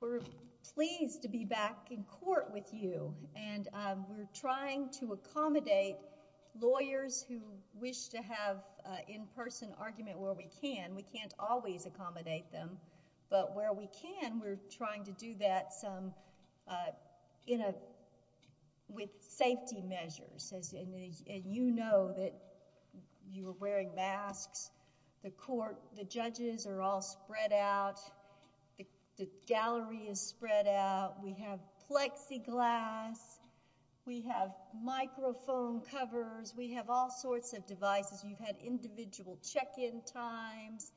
We're pleased to be back in court with you, and we're trying to accommodate lawyers who wish to have an in-person argument where we can. We can't always accommodate them, but where we can, we're trying to do that in a way that safety measures, and you know that you are wearing masks, the court, the judges are all spread out, the gallery is spread out, we have plexiglass, we have microphone covers, we have all sorts of devices. You've had individual check-in times,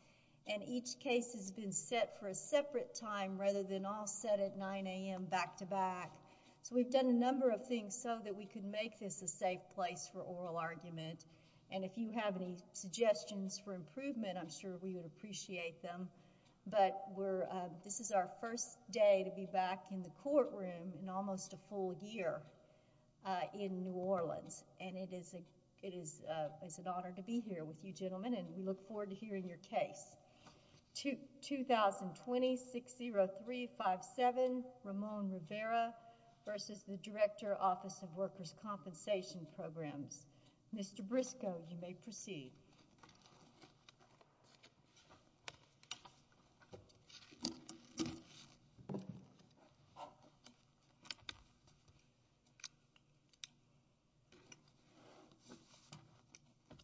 and each case has been set for a separate time rather than all set at 9 a.m. back-to-back. We've done a number of things so that we could make this a safe place for oral argument, and if you have any suggestions for improvement, I'm sure we would appreciate them. This is our first day to be back in the courtroom in almost a full year in New Orleans, and it is an honor to be here with you gentlemen, and we look forward to hearing your case. 2020-60357, Ramon Rivera, versus the Director, Office of Workers' Compensation Programs. Mr. Briscoe, you may proceed.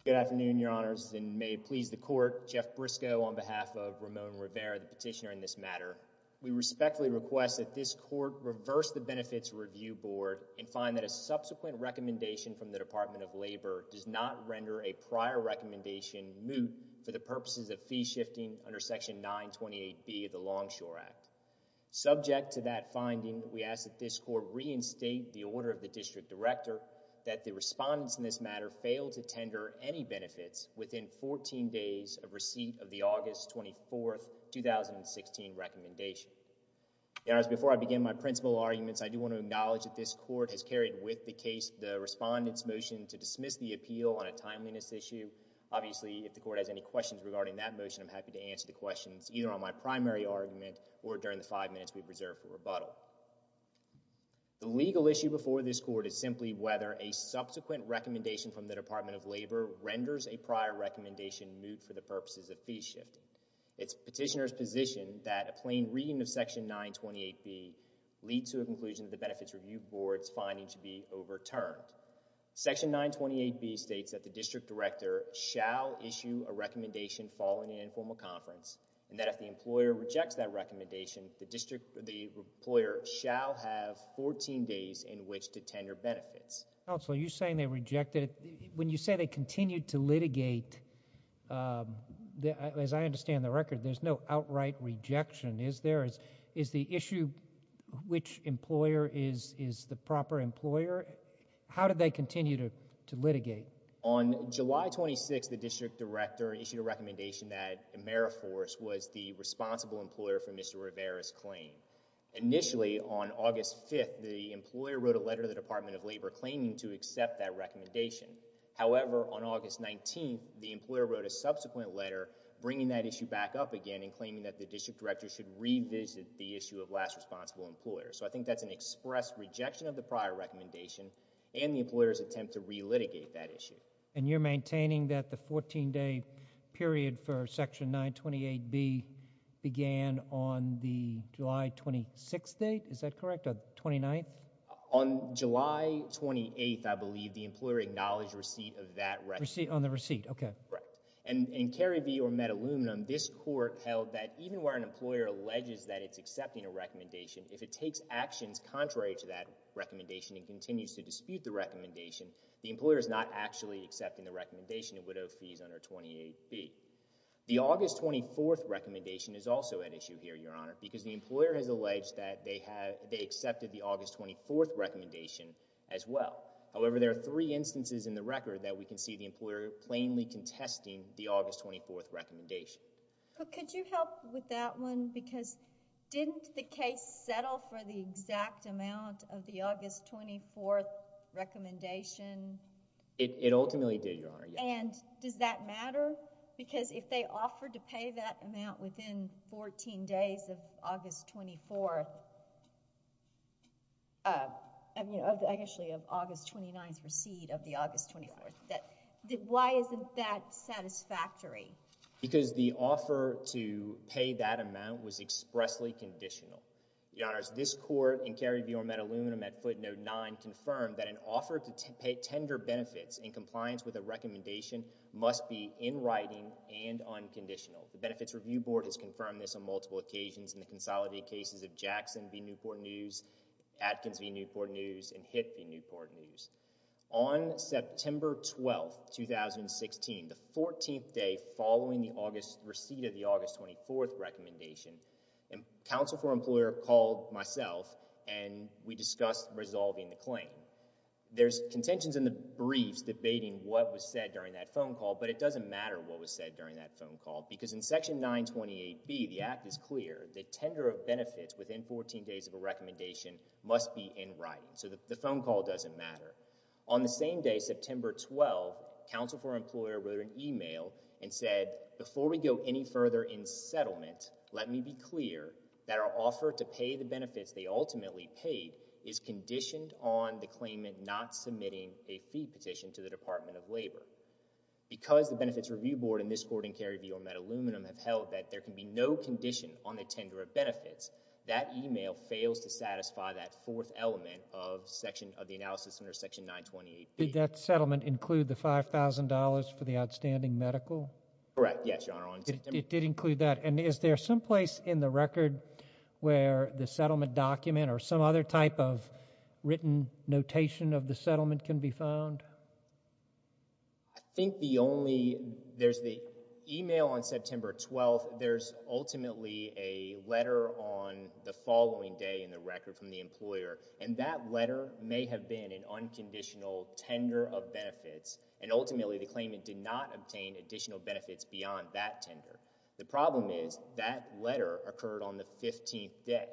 Good afternoon, your honors, and may it please the court, Jeff Briscoe on behalf of Ramon Rivera, the petitioner in this matter. We respectfully request that this court reverse the Benefits Review Board and find that a subsequent recommendation from the Department of Labor does not render a prior recommendation moot for the purposes of fee shifting under Section 928B of the Longshore Act. Subject to that finding, we ask that this court reinstate the order of the District Director that the respondents in this matter fail to tender any benefits within 14 days of receipt of the August 24, 2016, recommendation. Your honors, before I begin my principal arguments, I do want to acknowledge that this court has carried with the case the respondent's motion to dismiss the appeal on a timeliness issue. Obviously, if the court has any questions regarding that motion, I'm happy to answer the questions either on my primary argument or during the five minutes we've reserved for rebuttal. The legal issue before this court is simply whether a subsequent recommendation from the Department of Labor renders a prior recommendation moot for the purposes of fee shifting. It's petitioner's position that a plain reading of Section 928B leads to a conclusion that the Benefits Review Board's finding should be overturned. Section 928B states that the District Director shall issue a recommendation following an informal conference and that if the employer rejects that recommendation, the employer shall have 14 days in which to tender benefits. Counsel, are you saying they rejected it? When you say they continued to litigate, as I understand the record, there's no outright rejection. Is there? Is the issue which employer is the proper employer? How did they continue to litigate? On July 26th, the District Director issued a recommendation that Ameriforce was the responsible employer for Mr. Rivera's claim. Initially, on August 5th, the employer wrote a letter to the Department of Labor claiming to accept that recommendation. However, on August 19th, the employer wrote a subsequent letter bringing that issue back up again and claiming that the District Director should revisit the issue of last responsible employer. I think that's an express rejection of the prior recommendation and the employer's attempt to re-litigate that issue. You're maintaining that the 14-day period for Section 928B began on the July 26th date? Is that correct? Or 29th? On July 28th, I believe, the employer acknowledged receipt of that recommendation. On the receipt? Okay. Correct. In Cary v. Metaluminum, this court held that even where an employer alleges that it's accepting a recommendation, if it takes actions contrary to that recommendation and continues to dispute the recommendation, the employer is not actually accepting the recommendation and would owe fees under 28B. The August 24th recommendation is also at issue here, Your Honor, because the employer has alleged that they accepted the August 24th recommendation as well. However, there are three instances in the record that we can see the employer plainly contesting the August 24th recommendation. Could you help with that one? Because didn't the case settle for the exact amount of the August 24th recommendation? It ultimately did, Your Honor. And does that matter? Because if they offered to pay that amount within 14 days of August 24th, I mean, actually of August 29th receipt of the August 24th, why isn't that satisfactory? Because the offer to pay that amount was expressly conditional. Your Honors, this court in Cary v. Metaluminum at footnote 9 confirmed that an offer to pay tender benefits in compliance with a recommendation must be in writing and unconditional. The Benefits Review Board has confirmed this on multiple occasions in the consolidated cases of Jackson v. Newport News, Atkins v. Newport News, and Hitt v. Newport News. On September 12th, 2016, the 14th day following the August receipt of the August 24th recommendation, counsel for employer called myself and we discussed resolving the claim. There's contentions in the briefs debating what was said during that phone call, but it doesn't matter what was said during that phone call because in Section 928B, the act is clear. The tender of benefits within 14 days of a recommendation must be in writing. So the phone call doesn't matter. On the same day, September 12, counsel for employer wrote an email and said, before we go any further in settlement, let me be clear that our offer to pay the benefits they ultimately paid is conditioned on the claimant not submitting a fee petition to the Department of Labor. Because the Benefits Review Board in this court in Cary v. Metaluminum have held that there can be no condition on the tender of benefits, that email fails to satisfy that fourth element of the analysis under Section 928B. Did that settlement include the $5,000 for the outstanding medical? Correct. Yes, Your Honor. It did include that. And is there some place in the record where the settlement document or some other type of written notation of the settlement can be found? I think the only, there's the email on September 12th. But there's ultimately a letter on the following day in the record from the employer. And that letter may have been an unconditional tender of benefits. And ultimately, the claimant did not obtain additional benefits beyond that tender. The problem is that letter occurred on the 15th day.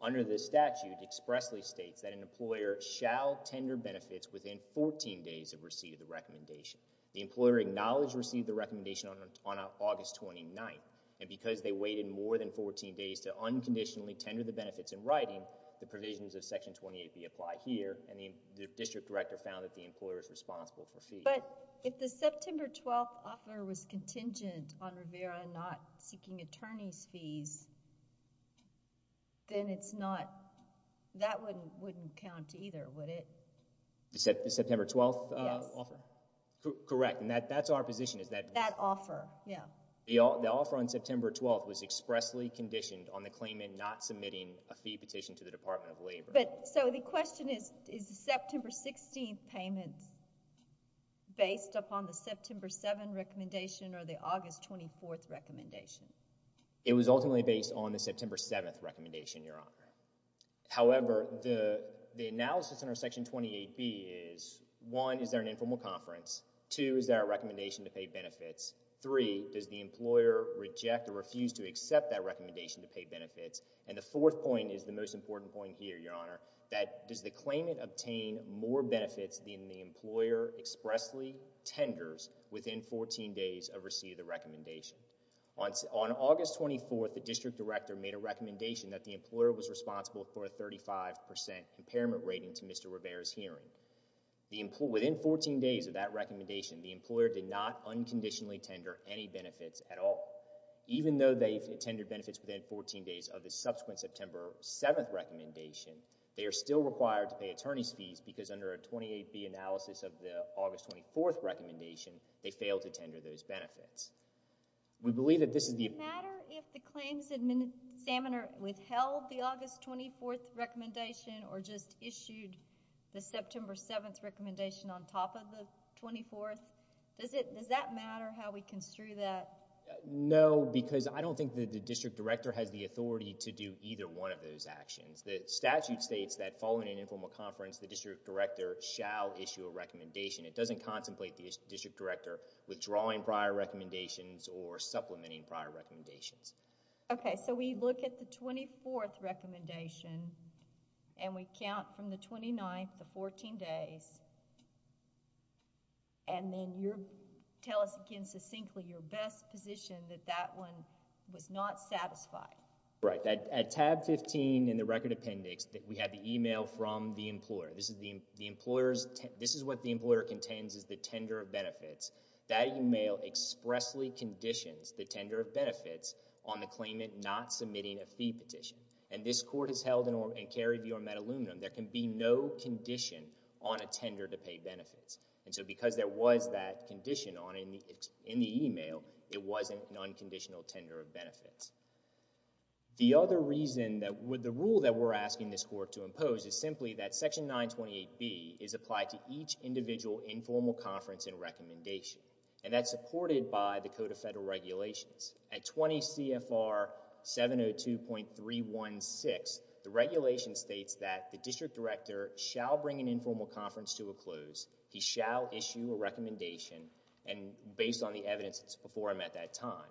Under the statute, expressly states that an employer shall tender benefits within 14 days of receipt of the recommendation. The employer acknowledged received the recommendation on August 29th, and because they waited more than 14 days to unconditionally tender the benefits in writing, the provisions of Section 28B apply here, and the district director found that the employer is responsible for fees. But if the September 12th offer was contingent on Rivera not seeking attorney's fees, then it's not, that wouldn't count either, would it? The September 12th offer? Yes. Correct. And that's our position. That offer. Yeah. The offer on September 12th was expressly conditioned on the claimant not submitting a fee petition to the Department of Labor. So the question is, is the September 16th payment based upon the September 7th recommendation or the August 24th recommendation? It was ultimately based on the September 7th recommendation, Your Honor. However, the analysis under Section 28B is, one, is there an informal conference? Two, is there a recommendation to pay benefits? Three, does the employer reject or refuse to accept that recommendation to pay benefits? And the fourth point is the most important point here, Your Honor, that does the claimant obtain more benefits than the employer expressly tenders within 14 days of receipt of the recommendation? On August 24th, the district director made a recommendation that the employer was responsible for a 35% impairment rating to Mr. Rivera's hearing. Within 14 days of that recommendation, the employer did not unconditionally tender any benefits at all. Even though they've tendered benefits within 14 days of the subsequent September 7th recommendation, they are still required to pay attorney's fees because under a 28B analysis of the August 24th recommendation, they failed to tender those benefits. We believe that this is the... Does it matter if the claims examiner withheld the August 24th recommendation or just issued the September 7th recommendation on top of the 24th? Does it, does that matter how we construe that? No, because I don't think that the district director has the authority to do either one of those actions. The statute states that following an informal conference, the district director shall issue a recommendation. It doesn't contemplate the district director withdrawing prior recommendations or supplementing prior recommendations. Okay, so we look at the 24th recommendation and we count from the 29th to 14 days and then you tell us again succinctly your best position that that one was not satisfied. Right. At tab 15 in the record appendix, we have the email from the employer. This is the employer's, this is what the employer contends is the tender of benefits. That email expressly conditions the tender of benefits on the claimant not submitting a fee petition. And this court has held and carried the Ormet aluminum, there can be no condition on a tender to pay benefits. And so because there was that condition on, in the email, it wasn't an unconditional tender of benefits. The other reason that, the rule that we're asking this court to impose is simply that Section 928B is applied to each individual informal conference and recommendation. And that's supported by the Code of Federal Regulations. At 20 CFR 702.316, the regulation states that the district director shall bring an informal conference to a close. He shall issue a recommendation and based on the evidence, it's before him at that time.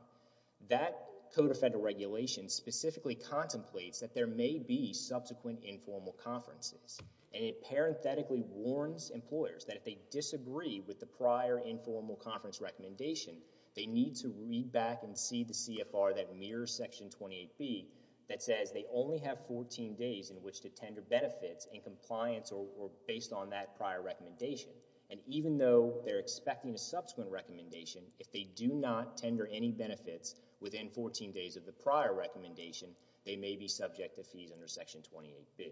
That Code of Federal Regulations specifically contemplates that there may be subsequent informal conferences. And it parenthetically warns employers that if they disagree with the prior informal conference recommendation, they need to read back and see the CFR that mirrors Section 28B that says they only have 14 days in which to tender benefits in compliance or based on that prior recommendation. And even though they're expecting a subsequent recommendation, if they do not tender any benefits within 14 days of the prior recommendation, they may be subject to fees under Section 28B.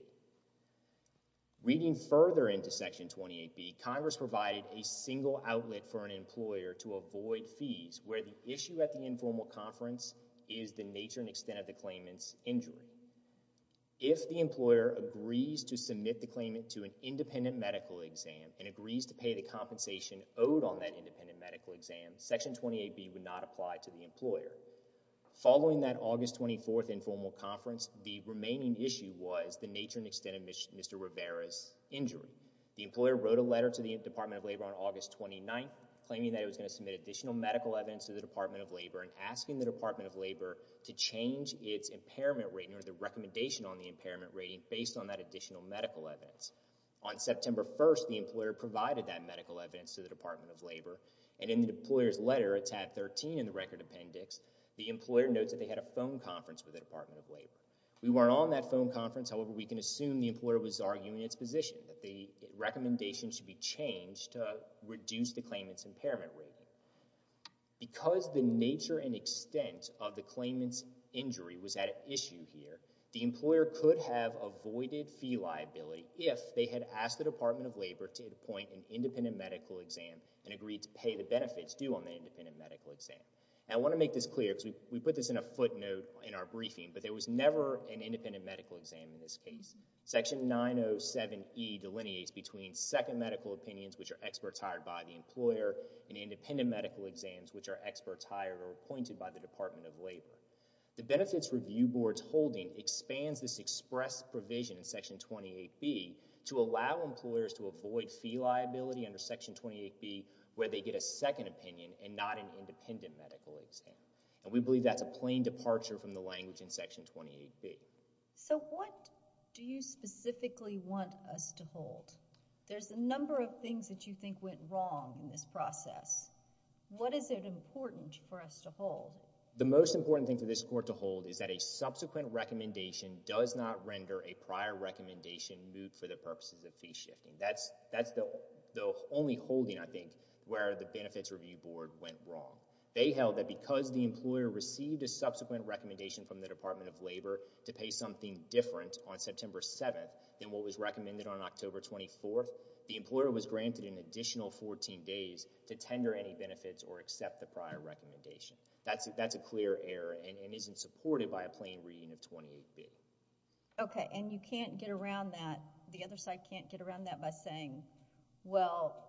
Reading further into Section 28B, Congress provided a single outlet for an employer to avoid fees where the issue at the informal conference is the nature and extent of the claimant's injury. If the employer agrees to submit the claimant to an independent medical exam and agrees to pay the compensation owed on that independent medical exam, Section 28B would not apply to the employer. Following that August 24th informal conference, the remaining issue was the nature and extent of Mr. Rivera's injury. The employer wrote a letter to the Department of Labor on August 29th claiming that it was going to submit additional medical evidence to the Department of Labor and asking the Department of Labor to change its impairment rating or the recommendation on the impairment rating based on that additional medical evidence. On September 1st, the employer provided that medical evidence to the Department of Labor and in the employer's letter, it's at 13 in the record appendix, the employer notes that they had a phone conference with the Department of Labor. We weren't on that phone conference, however, we can assume the employer was arguing its position that the recommendation should be changed to reduce the claimant's impairment rating. Because the nature and extent of the claimant's injury was at issue here, the employer could have avoided fee liability if they had asked the Department of Labor to appoint an independent medical exam and agreed to pay the benefits due on the independent medical exam. I want to make this clear because we put this in a footnote in our briefing, but there was never an independent medical exam in this case. Section 907E delineates between second medical opinions which are experts hired by the employer and independent medical exams which are experts hired or appointed by the Department of Labor. The Benefits Review Board's holding expands this express provision in Section 28B to allow employers to avoid fee liability under Section 28B where they get a second opinion and not an independent medical exam. We believe that's a plain departure from the language in Section 28B. So what do you specifically want us to hold? There's a number of things that you think went wrong in this process. What is it important for us to hold? The most important thing for this court to hold is that a subsequent recommendation does not render a prior recommendation moot for the purposes of fee shifting. That's the only holding, I think, where the Benefits Review Board went wrong. They held that because the employer received a subsequent recommendation from the Department of Labor to pay something different on September 7th than what was recommended on October 24th, the employer was granted an additional 14 days to tender any benefits or accept the prior recommendation. That's a clear error and isn't supported by a plain reading of 28B. Okay, and you can't get around that, the other side can't get around that by saying, well,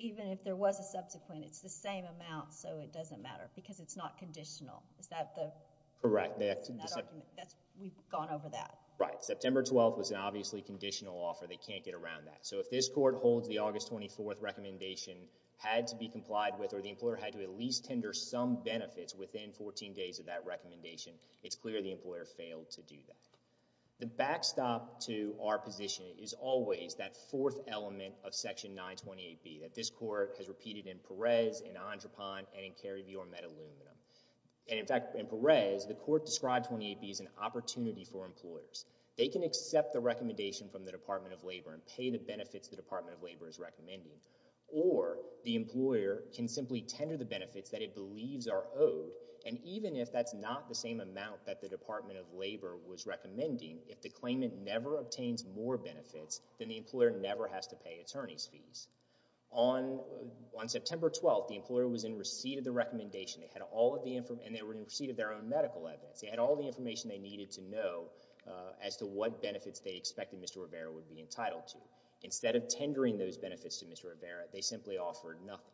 even if there was a subsequent, it's the same amount, so it doesn't matter because it's not conditional. Is that the... Correct. That's... We've gone over that. Right. September 12th was an obviously conditional offer. They can't get around that. So if this court holds the August 24th recommendation had to be complied with or the employer had to at least tender some benefits within 14 days of that recommendation, it's clear the employer failed to do that. The backstop to our position is always that fourth element of Section 928B that this court has repeated in Perez, in Andropon, and in Kerry v. Ormetta-Lumina. And in fact, in Perez, the court described 28B as an opportunity for employers. They can accept the recommendation from the Department of Labor and pay the benefits the it believes are owed, and even if that's not the same amount that the Department of Labor was recommending, if the claimant never obtains more benefits, then the employer never has to pay attorney's fees. On September 12th, the employer was in receipt of the recommendation and they were in receipt of their own medical evidence. They had all the information they needed to know as to what benefits they expected Mr. Rivera would be entitled to. Instead of tendering those benefits to Mr. Rivera, they simply offered nothing.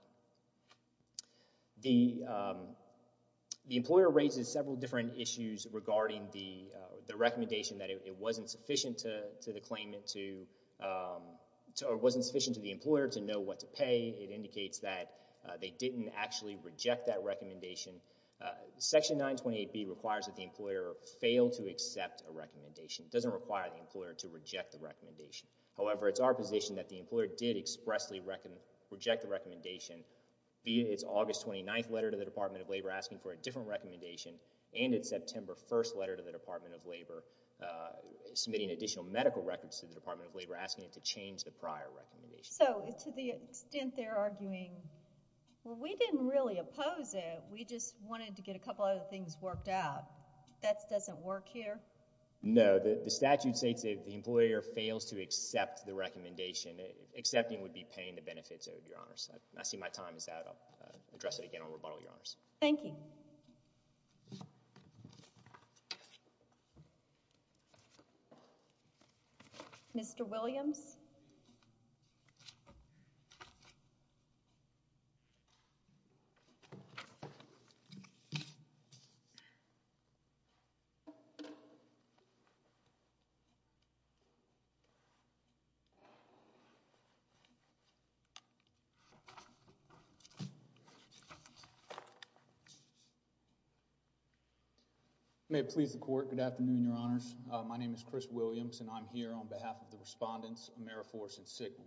The employer raises several different issues regarding the recommendation that it wasn't sufficient to the claimant to, or it wasn't sufficient to the employer to know what to pay. It indicates that they didn't actually reject that recommendation. Section 928B requires that the employer fail to accept a recommendation. It doesn't require the employer to reject the recommendation. However, it's our position that the employer did expressly reject the recommendation via its August 29th letter to the Department of Labor asking for a different recommendation and its September 1st letter to the Department of Labor submitting additional medical records to the Department of Labor asking it to change the prior recommendation. So to the extent they're arguing, well we didn't really oppose it, we just wanted to get a couple other things worked out, that doesn't work here? No, the statute states that if the employer fails to accept the recommendation, accepting would be paying the benefits owed, Your Honors. I see my time is out, I'll address it again on rebuttal, Your Honors. Thank you. Mr. Williams? May it please the Court, good afternoon, Your Honors. My name is Chris Williams and I'm here on behalf of the respondents, Ameriforce and Sigel.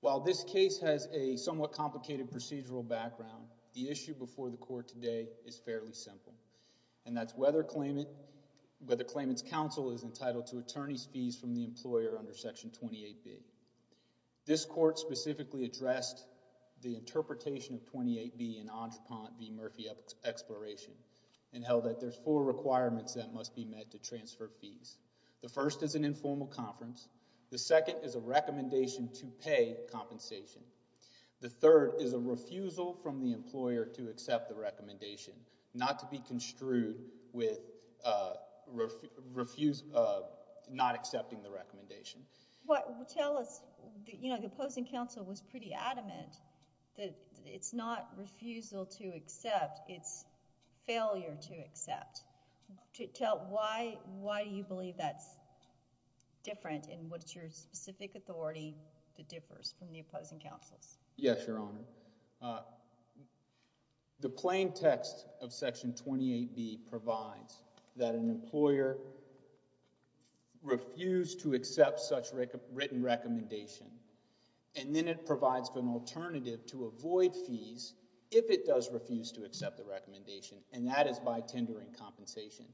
While this case has a somewhat complicated procedural background, the issue before the court today is fairly simple. And that's whether claimant's counsel is entitled to attorney's fees from the employer under Section 28B. This court specifically addressed the interpretation of 28B in Entrepont v. Murphy Exploration and held that there's four requirements that must be met to transfer fees. The first is an informal conference. The second is a recommendation to pay compensation. The third is a refusal from the employer to accept the recommendation, not to be construed with not accepting the recommendation. Tell us, you know, the opposing counsel was pretty adamant that it's not refusal to accept, it's failure to accept. Tell why you believe that's different and what's your specific authority that differs from the opposing counsel's? Yes, Your Honor. The plain text of Section 28B provides that an employer refused to accept such written recommendation and then it provides an alternative to avoid fees if it does refuse to accept the recommendation and that is by tendering compensation.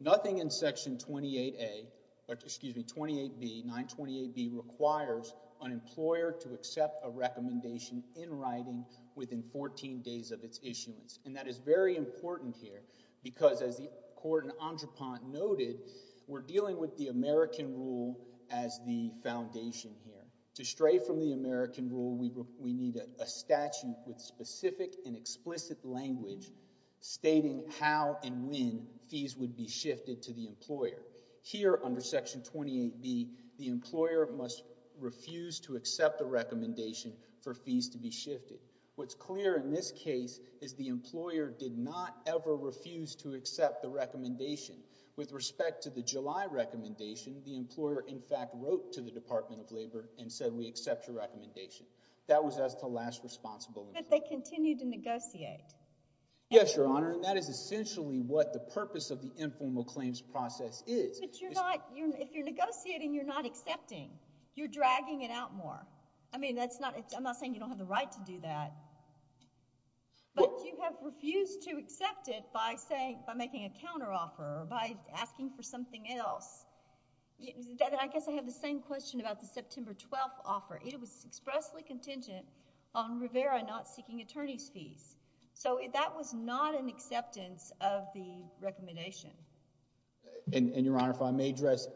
Nothing in Section 28A, excuse me, 28B, 928B requires an employer to accept a recommendation in writing within 14 days of its issuance and that is very important here because as the court in Entrepont noted, we're dealing with the American rule as the foundation here. To stray from the American rule, we need a statute with specific and explicit language stating how and when fees would be shifted to the employer. Here under Section 28B, the employer must refuse to accept the recommendation for fees to be shifted. What's clear in this case is the employer did not ever refuse to accept the recommendation. With respect to the July recommendation, the employer in fact wrote to the Department of Labor and said, we accept your recommendation. That was as the last responsible. But they continued to negotiate. Yes, Your Honor. That is essentially what the purpose of the informal claims process is. But you're not, if you're negotiating, you're not accepting. You're dragging it out more. I mean that's not, I'm not saying you don't have the right to do that, but you have refused to accept it by saying, by making a counteroffer or by asking for something else. I guess I have the same question about the September 12th offer. It was expressly contingent on Rivera not seeking attorney's fees. So that was not an acceptance of the recommendation. And Your Honor, if I may address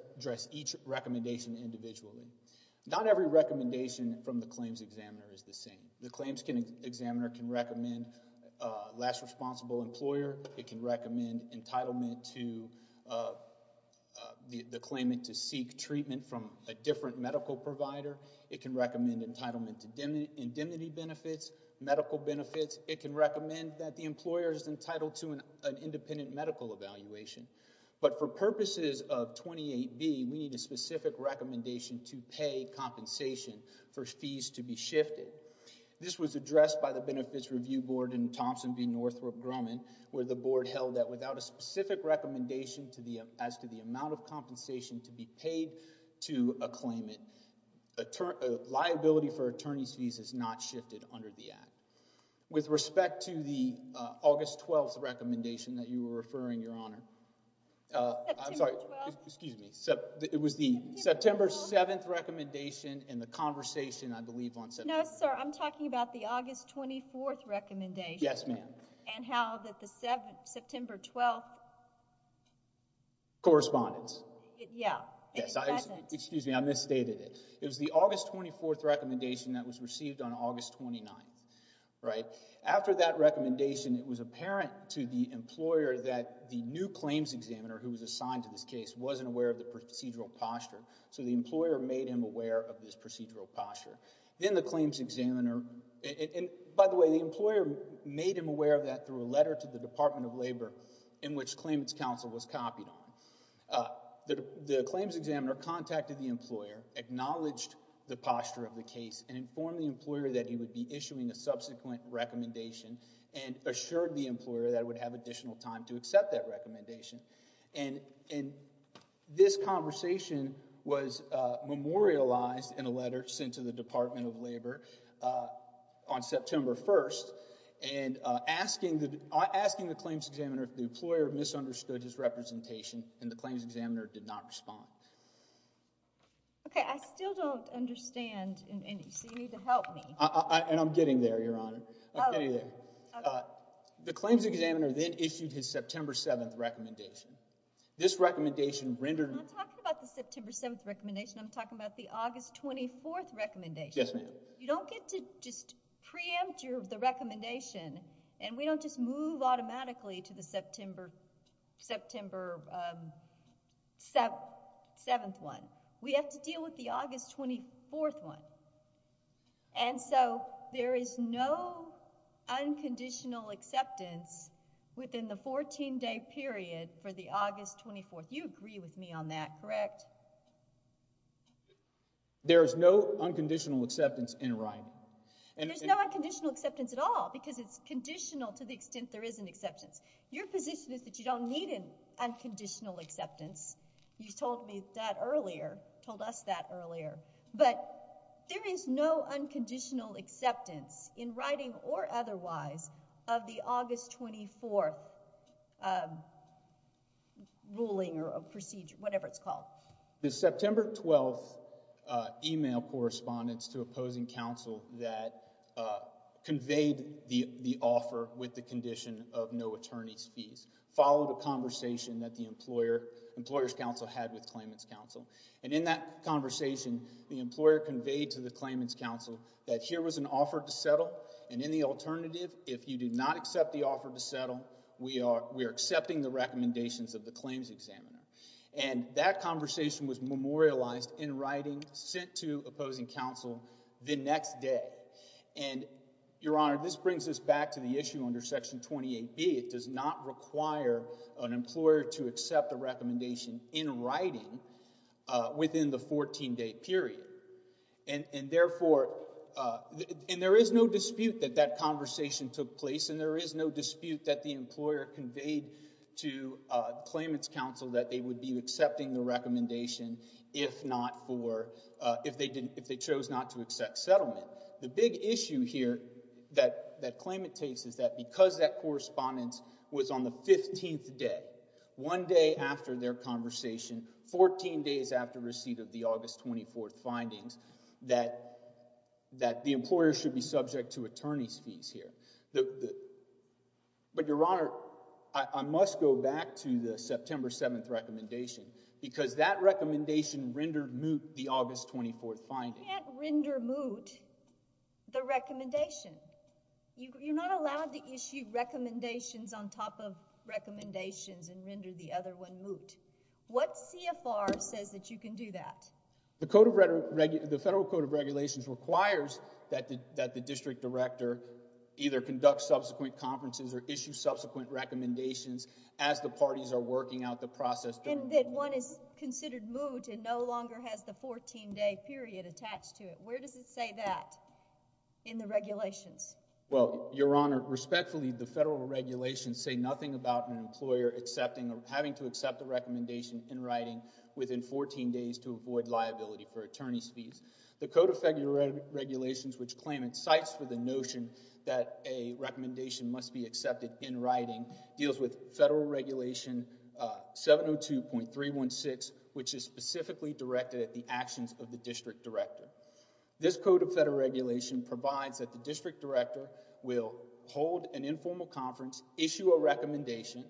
each recommendation individually. Not every recommendation from the claims examiner is the same. The claims examiner can recommend last responsible employer, it can recommend entitlement to the claimant to seek treatment from a different medical provider. It can recommend entitlement to indemnity benefits, medical benefits. It can recommend that the employer is entitled to an independent medical evaluation. But for purposes of 28B, we need a specific recommendation to pay compensation for fees to be shifted. This was addressed by the Benefits Review Board in Thompson v. Northrop Grumman, where the board held that without a specific recommendation as to the amount of compensation to be paid to a claimant, liability for attorney's fees is not shifted under the Act. With respect to the August 12th recommendation that you were referring, Your Honor. I'm sorry. September 12th? Excuse me. It was the September 7th recommendation and the conversation, I believe, on September 12th. No, sir. I'm talking about the August 24th recommendation. Yes, ma'am. And how that the September 12th. Correspondence. Yeah. Yes. I'm sorry. I misstated it. It was the August 24th recommendation that was received on August 29th, right? After that recommendation, it was apparent to the employer that the new claims examiner who was assigned to this case wasn't aware of the procedural posture. So the employer made him aware of this procedural posture. Then the claims examiner, and by the way, the employer made him aware of that through a letter to the Department of Labor in which claimants counsel was copied on. The claims examiner contacted the employer, acknowledged the posture of the case, and informed the employer that he would be issuing a subsequent recommendation and assured the employer that it would have additional time to accept that recommendation. And this conversation was memorialized in a letter sent to the Department of Labor on and the claims examiner did not respond. Okay. I still don't understand, and so you need to help me. And I'm getting there, Your Honor. I'm getting there. Okay. The claims examiner then issued his September 7th recommendation. This recommendation rendered. I'm not talking about the September 7th recommendation. I'm talking about the August 24th recommendation. Yes, ma'am. You don't get to just preempt the recommendation, and we don't just move automatically to the 7th one. We have to deal with the August 24th one. And so there is no unconditional acceptance within the 14-day period for the August 24th. You agree with me on that, correct? There is no unconditional acceptance in writing. And there's no unconditional acceptance at all because it's conditional to the extent there is an acceptance. Your position is that you don't need an unconditional acceptance. You told me that earlier, told us that earlier, but there is no unconditional acceptance in writing or otherwise of the August 24th ruling or procedure, whatever it's called. The September 12th email correspondence to opposing counsel that conveyed the offer with the condition of no attorney's fees followed a conversation that the employer's counsel had with claimant's counsel. And in that conversation, the employer conveyed to the claimant's counsel that here was an offer to settle, and in the alternative, if you did not accept the offer to settle, we are accepting the recommendations of the claims examiner. And that conversation was memorialized in writing, sent to opposing counsel the next day. And, Your Honor, this brings us back to the issue under Section 28B. It does not require an employer to accept a recommendation in writing within the 14-day period. And therefore, and there is no dispute that that conversation took place, and there is no dispute that the employer conveyed to claimant's counsel that they would be accepting the recommendation if not for, if they chose not to accept settlement. The big issue here that claimant takes is that because that correspondence was on the 15th day, one day after their conversation, 14 days after receipt of the August 24th findings, that the employer should be subject to attorney's fees here. But Your Honor, I must go back to the September 7th recommendation, because that recommendation rendered moot the August 24th findings. You can't render moot the recommendation. You're not allowed to issue recommendations on top of recommendations and render the other one moot. What CFR says that you can do that? The Federal Code of Regulations requires that the district director either conduct subsequent conferences or issue subsequent recommendations as the parties are working out the process And that one is considered moot and no longer has the 14-day period attached to it. Where does it say that in the regulations? Well, Your Honor, respectfully, the federal regulations say nothing about an employer accepting or having to accept a recommendation in writing within 14 days to avoid liability for attorney's fees. The Code of Regulations, which claimant cites for the notion that a recommendation must be accepted in writing, deals with Federal Regulation 702.316, which is specifically directed at the actions of the district director. This Code of Federal Regulation provides that the district director will hold an informal conference, issue a recommendation,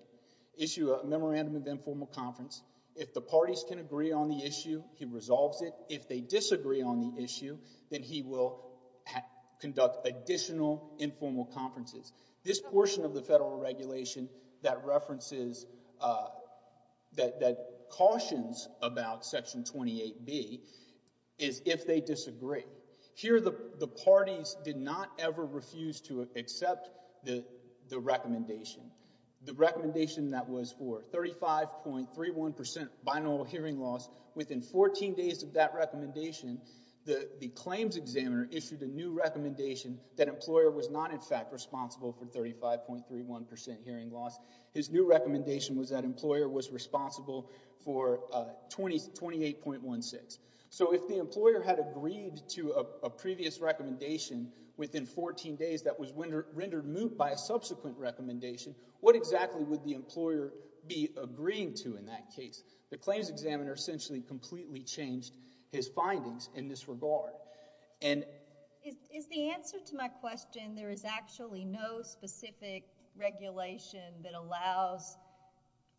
issue a memorandum of informal conference. If the parties can agree on the issue, he resolves it. If they disagree on the issue, then he will conduct additional informal conferences. This portion of the Federal Regulation that references, that cautions about Section 28B is if they disagree. Here the parties did not ever refuse to accept the recommendation. The recommendation that was for 35.31% binaural hearing loss. Within 14 days of that recommendation, the claims examiner issued a new recommendation that employer was not in fact responsible for 35.31% hearing loss. His new recommendation was that employer was responsible for 28.16. So if the employer had agreed to a previous recommendation within 14 days that was rendered moot by a subsequent recommendation, what exactly would the employer be agreeing to in that case? The claims examiner essentially completely changed his findings in this regard. Is the answer to my question, there is actually no specific regulation that allows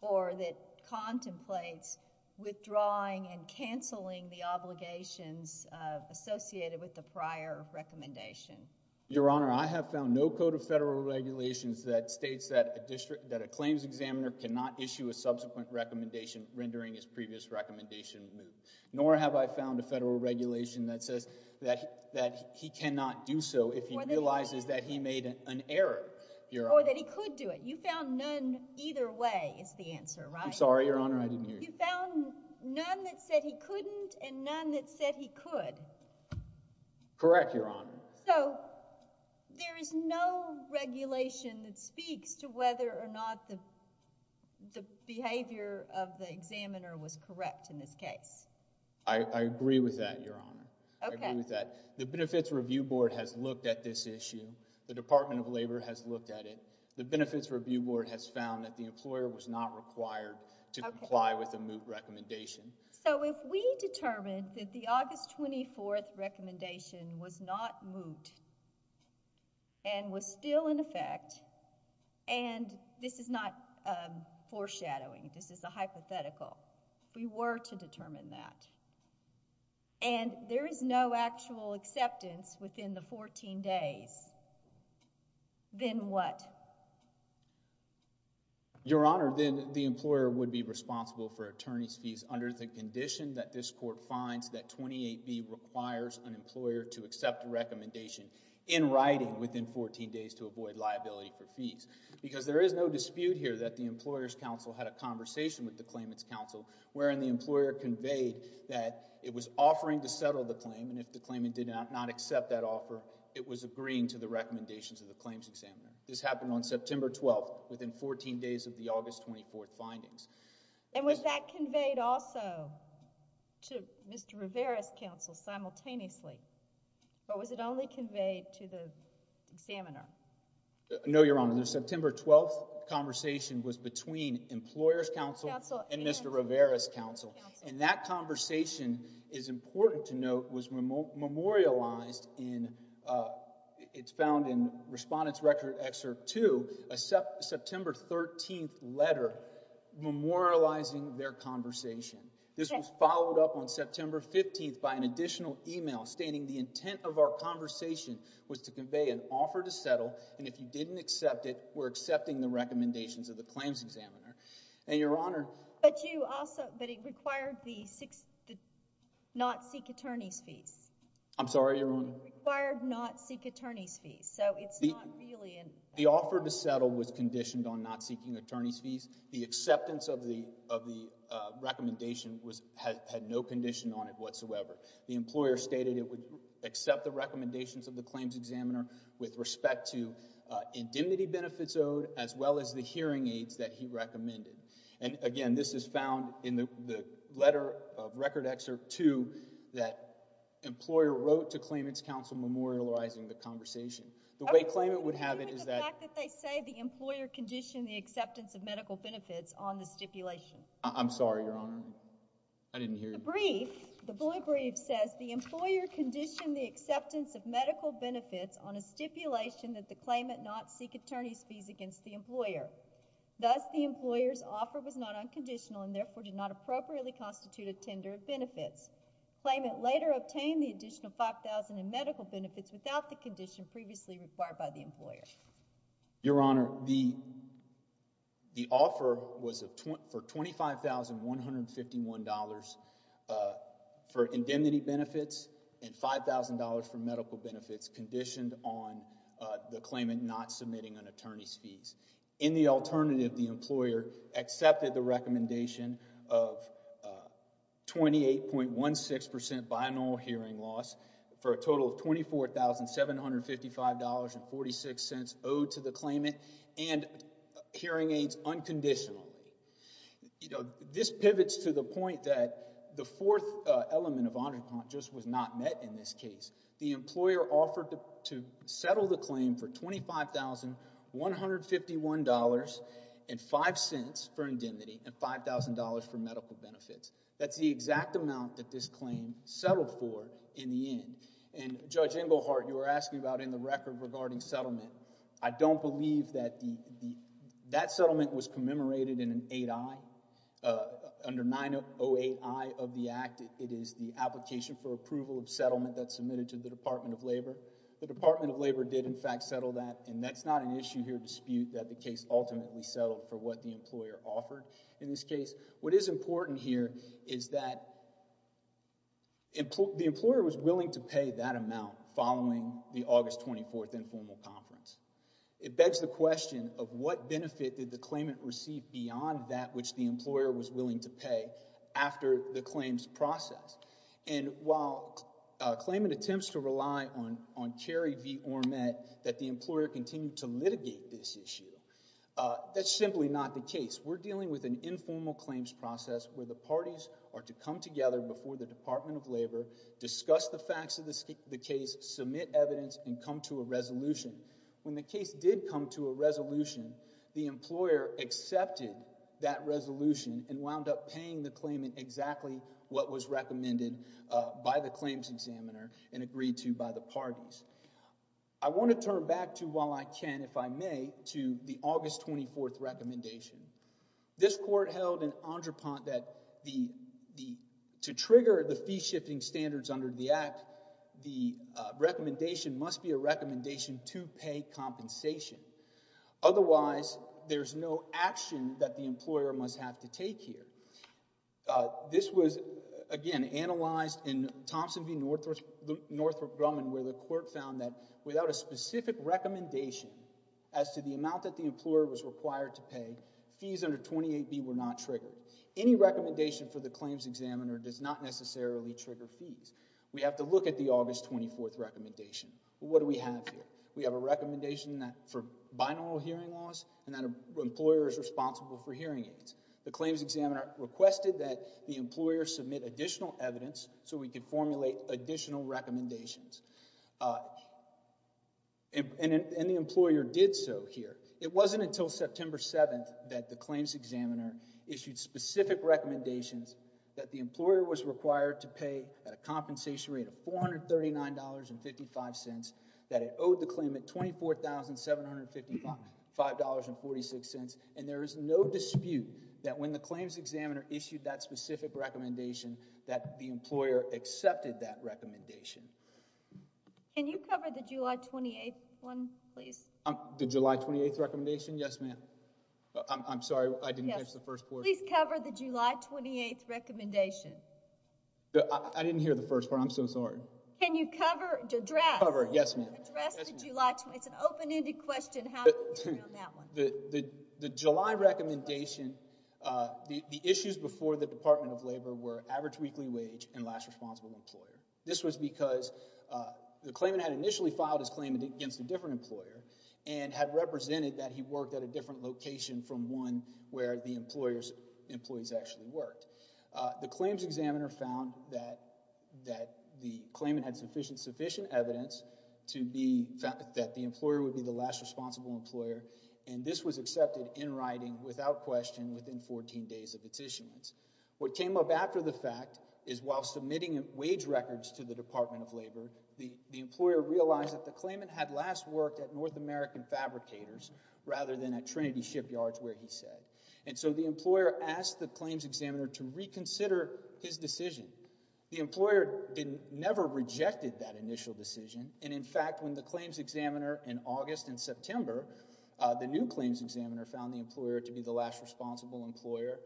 or that contemplates withdrawing and canceling the obligations associated with the prior recommendation? Your Honor, I have found no code of Federal Regulations that states that a claims examiner cannot issue a subsequent recommendation rendering his previous recommendation moot, nor have I found a Federal Regulation that says that he cannot do so if he realizes that he made an error. Or that he could do it. You found none either way is the answer, right? I'm sorry, Your Honor. I didn't hear you. You found none that said he couldn't and none that said he could. Correct Your Honor. So there is no regulation that speaks to whether or not the behavior of the examiner was correct in this case? I agree with that, Your Honor. I agree with that. The Benefits Review Board has looked at this issue. The Department of Labor has looked at it. The Benefits Review Board has found that the employer was not required to comply with a moot recommendation. So if we determined that the August 24th recommendation was not moot and was still in effect, and this is not foreshadowing, this is a hypothetical, if we were to determine that, and there is no actual acceptance within the 14 days, then what? Your Honor, then the employer would be responsible for attorney's fees under the condition that this court finds that 28B requires an employer to accept a recommendation in writing within 14 days to avoid liability for fees. Because there is no dispute here that the employer's counsel had a conversation with the claimant's counsel wherein the employer conveyed that it was offering to settle the claim and if the claimant did not accept that offer, it was agreeing to the recommendations of the claims examiner. This happened on September 12th within 14 days of the August 24th findings. And was that conveyed also to Mr. Rivera's counsel simultaneously, or was it only conveyed to the examiner? No, Your Honor. The September 12th conversation was between employer's counsel and Mr. Rivera's counsel. And that conversation is important to note, was memorialized in, it's found in Respondent's Record Excerpt 2, a September 13th letter memorializing their conversation. This was followed up on September 15th by an additional email stating the intent of it was accepting the recommendations of the claims examiner. And, Your Honor. But you also, but it required the not seek attorney's fees. I'm sorry, Your Honor. It required not seek attorney's fees, so it's not really an offer. The offer to settle was conditioned on not seeking attorney's fees. The acceptance of the recommendation had no condition on it whatsoever. The employer stated it would accept the recommendations of the claims examiner with respect to indemnity benefits owed, as well as the hearing aids that he recommended. And again, this is found in the letter of Record Excerpt 2 that employer wrote to claimant's counsel memorializing the conversation. The way claimant would have it is that... Are you okay with the fact that they say the employer conditioned the acceptance of medical benefits on the stipulation? I'm sorry, Your Honor. I didn't hear you. The brief, the blue brief, says the employer conditioned the acceptance of medical benefits on a stipulation that the claimant not seek attorney's fees against the employer. Thus, the employer's offer was not unconditional and therefore did not appropriately constitute a tender of benefits. Claimant later obtained the additional $5,000 in medical benefits without the condition previously required by the employer. Your Honor, the offer was for $25,151 for indemnity benefits and $5,000 for medical benefits conditioned on the claimant not submitting an attorney's fees. In the alternative, the employer accepted the recommendation of 28.16% binaural hearing loss for a total of $24,755.46 owed to the claimant and hearing aids unconditionally. This pivots to the point that the fourth element of Honor Comp just was not met in this case. The employer offered to settle the claim for $25,151.05 for indemnity and $5,000 for medical benefits. That's the exact amount that this claim settled for in the end. And Judge Englehart, you were asking about in the record regarding settlement. I don't believe that the, that settlement was commemorated in an 8I, under 908I of the Department of Labor. The Department of Labor did, in fact, settle that and that's not an issue here to dispute that the case ultimately settled for what the employer offered in this case. What is important here is that the employer was willing to pay that amount following the August 24th informal conference. It begs the question of what benefit did the claimant receive beyond that which the employer was willing to pay after the claims process. And while claimant attempts to rely on Kerry v. Ormet that the employer continue to litigate this issue, that's simply not the case. We're dealing with an informal claims process where the parties are to come together before the Department of Labor, discuss the facts of the case, submit evidence, and come to a resolution. When the case did come to a resolution, the employer accepted that resolution and wound up paying the claimant exactly what was recommended by the claims examiner and agreed to by the parties. I want to turn back to, while I can, if I may, to the August 24th recommendation. This court held in Entrepont that to trigger the fee-shifting standards under the Act, the recommendation must be a recommendation to pay compensation. Otherwise, there's no action that the employer must have to take here. This was, again, analyzed in Thompson v. Northrop Grumman where the court found that without a specific recommendation as to the amount that the employer was required to pay, fees under 28B were not triggered. Any recommendation for the claims examiner does not necessarily trigger fees. We have to look at the August 24th recommendation. What do we have here? We have a recommendation for binaural hearing loss and that an employer is responsible for hearing aids. The claims examiner requested that the employer submit additional evidence so we could formulate additional recommendations. And the employer did so here. It wasn't until September 7th that the claims examiner issued specific recommendations that the employer was required to pay a compensation rate of $439.55, that it owed the claimant $24,755.46, and there is no dispute that when the claims examiner issued that specific recommendation that the employer accepted that recommendation. Can you cover the July 28th one, please? The July 28th recommendation? Yes, ma'am. I'm sorry. I didn't catch the first part. Can you please cover the July 28th recommendation? I didn't hear the first part. I'm so sorry. Can you cover, address? Yes, ma'am. Can you address the July 28th? It's an open-ended question. How do you deal with that one? The July recommendation, the issues before the Department of Labor were average weekly wage and last responsible employer. This was because the claimant had initially filed his claim against a different employer and had represented that he worked at a different location from one where the employer's employees actually worked. The claims examiner found that the claimant had sufficient evidence to be, that the employer would be the last responsible employer, and this was accepted in writing without question within 14 days of its issuance. What came up after the fact is while submitting wage records to the Department of Labor, the claims examiner found that the employer was working with American fabricators rather than at Trinity Shipyards where he said. And so the employer asked the claims examiner to reconsider his decision. The employer never rejected that initial decision, and in fact, when the claims examiner in August and September, the new claims examiner found the employer to be the last responsible employer,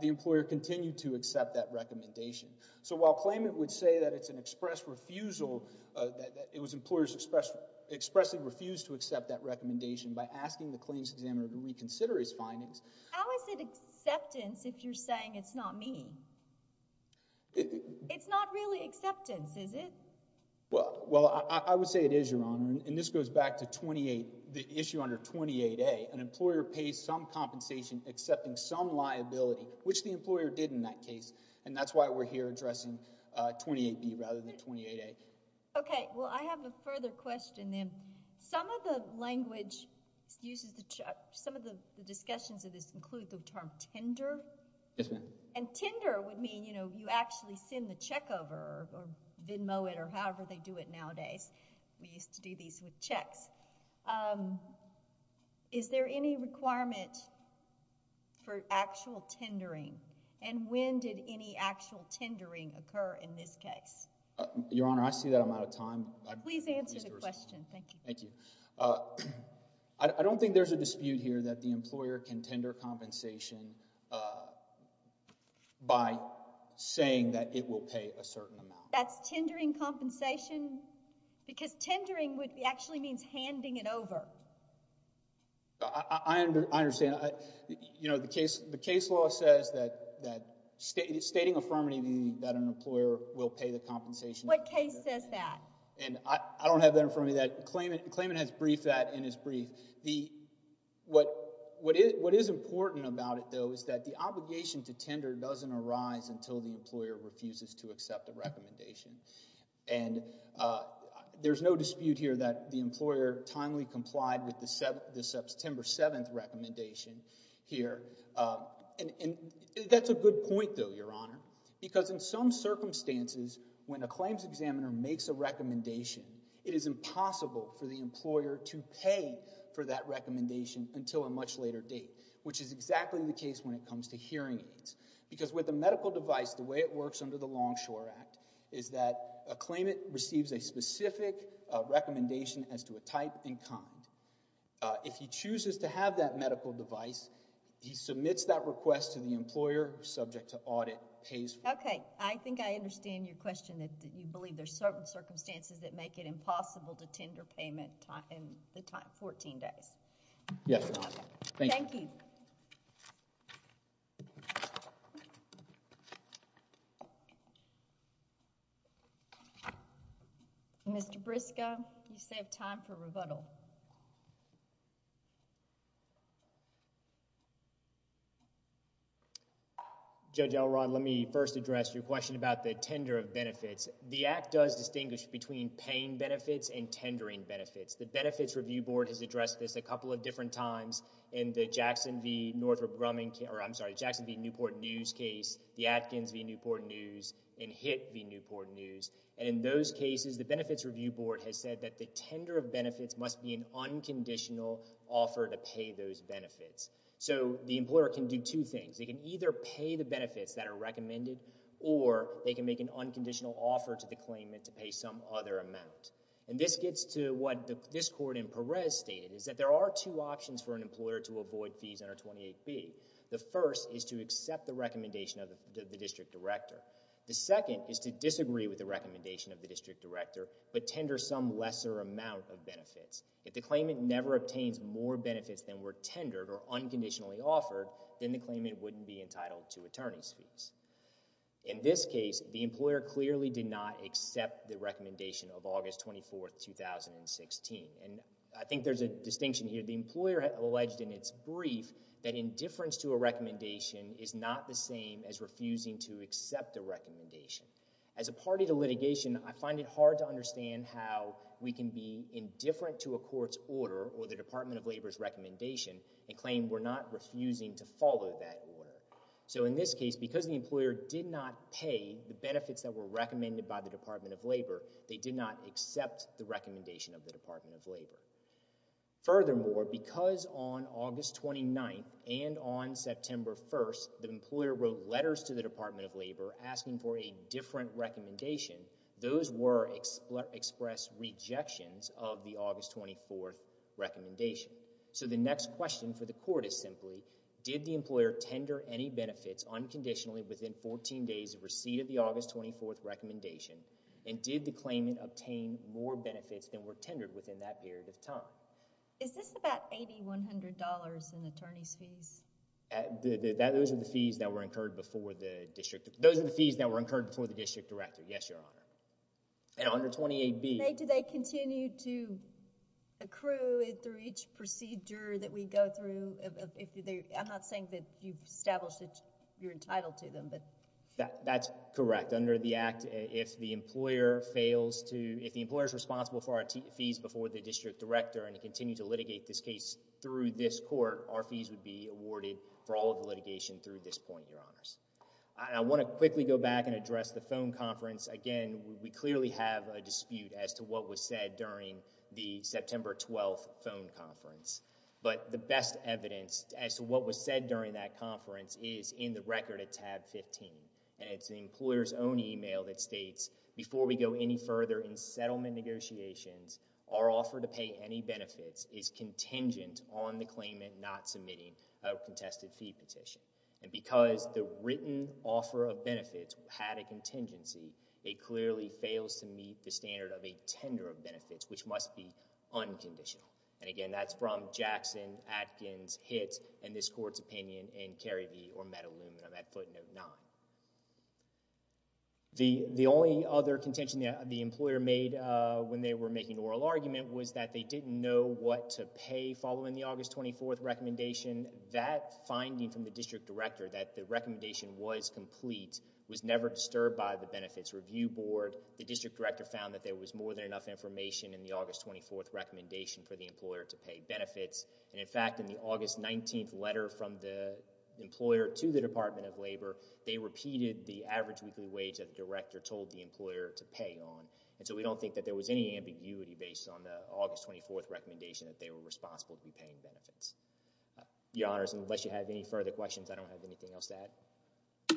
the employer continued to accept that recommendation. So while claimant would say that it's an express refusal, that it was employers expressly refused to accept that recommendation by asking the claims examiner to reconsider his findings. How is it acceptance if you're saying it's not me? It's not really acceptance, is it? Well, I would say it is, Your Honor, and this goes back to 28, the issue under 28A. An employer pays some compensation accepting some liability, which the employer did in that case, and that's why we're here addressing 28B rather than 28A. Okay. Well, I have a further question then. Some of the language used, some of the discussions of this include the term tender. Yes, ma'am. And tender would mean, you know, you actually send the check over or Venmo it or however they do it nowadays. We used to do these with checks. Is there any requirement for actual tendering, and when did any actual tendering occur in this case? Your Honor, I see that I'm out of time. Please answer the question. Thank you. Thank you. I don't think there's a dispute here that the employer can tender compensation by saying that it will pay a certain amount. That's tendering compensation? Because tendering actually means handing it over. I understand. You know, the case law says that stating affirmatively that an employer will pay the compensation. What case says that? I don't have that in front of me. The claimant has briefed that in his brief. What is important about it, though, is that the obligation to tender doesn't arise until the employer refuses to accept a recommendation. And there's no dispute here that the employer timely complied with the September 7th recommendation here. And that's a good point, though, Your Honor. Because in some circumstances, when a claims examiner makes a recommendation, it is impossible for the employer to pay for that recommendation until a much later date, which is exactly the case when it comes to hearing aids. Because with a medical device, the way it works under the Longshore Act is that a claimant receives a specific recommendation as to a type and kind. If he chooses to have that medical device, he submits that request to the employer, subject to audit, pays for it. Okay. I think I understand your question, that you believe there's certain circumstances that make it impossible to tender payment in the time, 14 days. Yes, Your Honor. Thank you. Thank you. Thank you. Mr. Briscoe, you save time for rebuttal. Judge Elrond, let me first address your question about the tender of benefits. The Act does distinguish between paying benefits and tendering benefits. The Benefits Review Board has addressed this a couple of different times in the Jackson v. Newport News case, the Atkins v. Newport News, and Hitt v. Newport News. And in those cases, the Benefits Review Board has said that the tender of benefits must be an unconditional offer to pay those benefits. So the employer can do two things. They can either pay the benefits that are recommended, or they can make an unconditional offer to the claimant to pay some other amount. And this gets to what this court in Perez stated, is that there are two options for an employer to avoid fees under 28B. The first is to accept the recommendation of the district director. The second is to disagree with the recommendation of the district director, but tender some lesser amount of benefits. If the claimant never obtains more benefits than were tendered or unconditionally offered, then the claimant wouldn't be entitled to attorney's fees. In this case, the employer clearly did not accept the recommendation of August 24, 2016. And I think there's a distinction here. The employer alleged in its brief that indifference to a recommendation is not the same as refusing to accept a recommendation. As a party to litigation, I find it hard to understand how we can be indifferent to a court's order or the Department of Labor's recommendation and claim we're not refusing to follow that order. So in this case, because the employer did not pay the benefits that were recommended by the Department of Labor, they did not accept the recommendation of the Department of Labor. Furthermore, because on August 29th and on September 1st, the employer wrote letters to the Department of Labor asking for a different recommendation, those were expressed rejections of the August 24th recommendation. So the next question for the court is simply, did the employer tender any benefits unconditionally within 14 days of receipt of the August 24th recommendation, and did the claimant obtain more benefits than were tendered within that period of time? Is this about $8,100 in attorney's fees? Those are the fees that were incurred before the district. Those are the fees that were incurred before the district director, yes, Your Honor. And under 28B... Do they continue to accrue through each procedure that we go through? I'm not saying that you've established that you're entitled to them, but... That's correct. Under the Act, if the employer fails to... if the employer is responsible for our fees before the district director and continues to litigate this case through this court, our fees would be awarded for all of the litigation through this point, Your Honors. I want to quickly go back and address the phone conference. Again, we clearly have a dispute as to what was said during the September 12th phone conference, but the best evidence as to what was said during that conference is in the record at our own email that states, Before we go any further in settlement negotiations, our offer to pay any benefits is contingent on the claimant not submitting a contested fee petition. And because the written offer of benefits had a contingency, it clearly fails to meet the standard of a tender of benefits, which must be unconditional. And again, that's from Jackson, Atkins, Hitt, and this court's opinion in Kerry v. Ormetta-Lumen at footnote 9. The only other contention that the employer made when they were making an oral argument was that they didn't know what to pay following the August 24th recommendation. That finding from the district director, that the recommendation was complete, was never disturbed by the benefits review board. The district director found that there was more than enough information in the August 24th recommendation for the employer to pay benefits. And in fact, in the August 19th letter from the employer to the Department of Labor, they repeated the average weekly wage that the director told the employer to pay on. And so we don't think that there was any ambiguity based on the August 24th recommendation that they were responsible to be paying benefits. Your Honors, unless you have any further questions, I don't have anything else to add.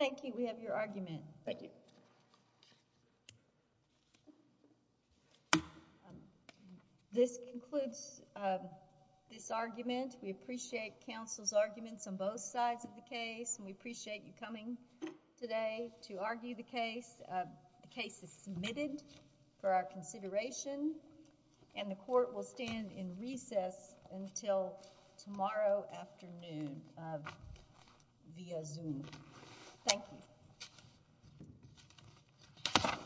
Thank you. We have your argument. Thank you. This concludes this argument. We appreciate counsel's arguments on both sides of the case, and we appreciate you coming today to argue the case. The case is submitted for our consideration, and the court will stand in recess until tomorrow afternoon via Zoom. Thank you.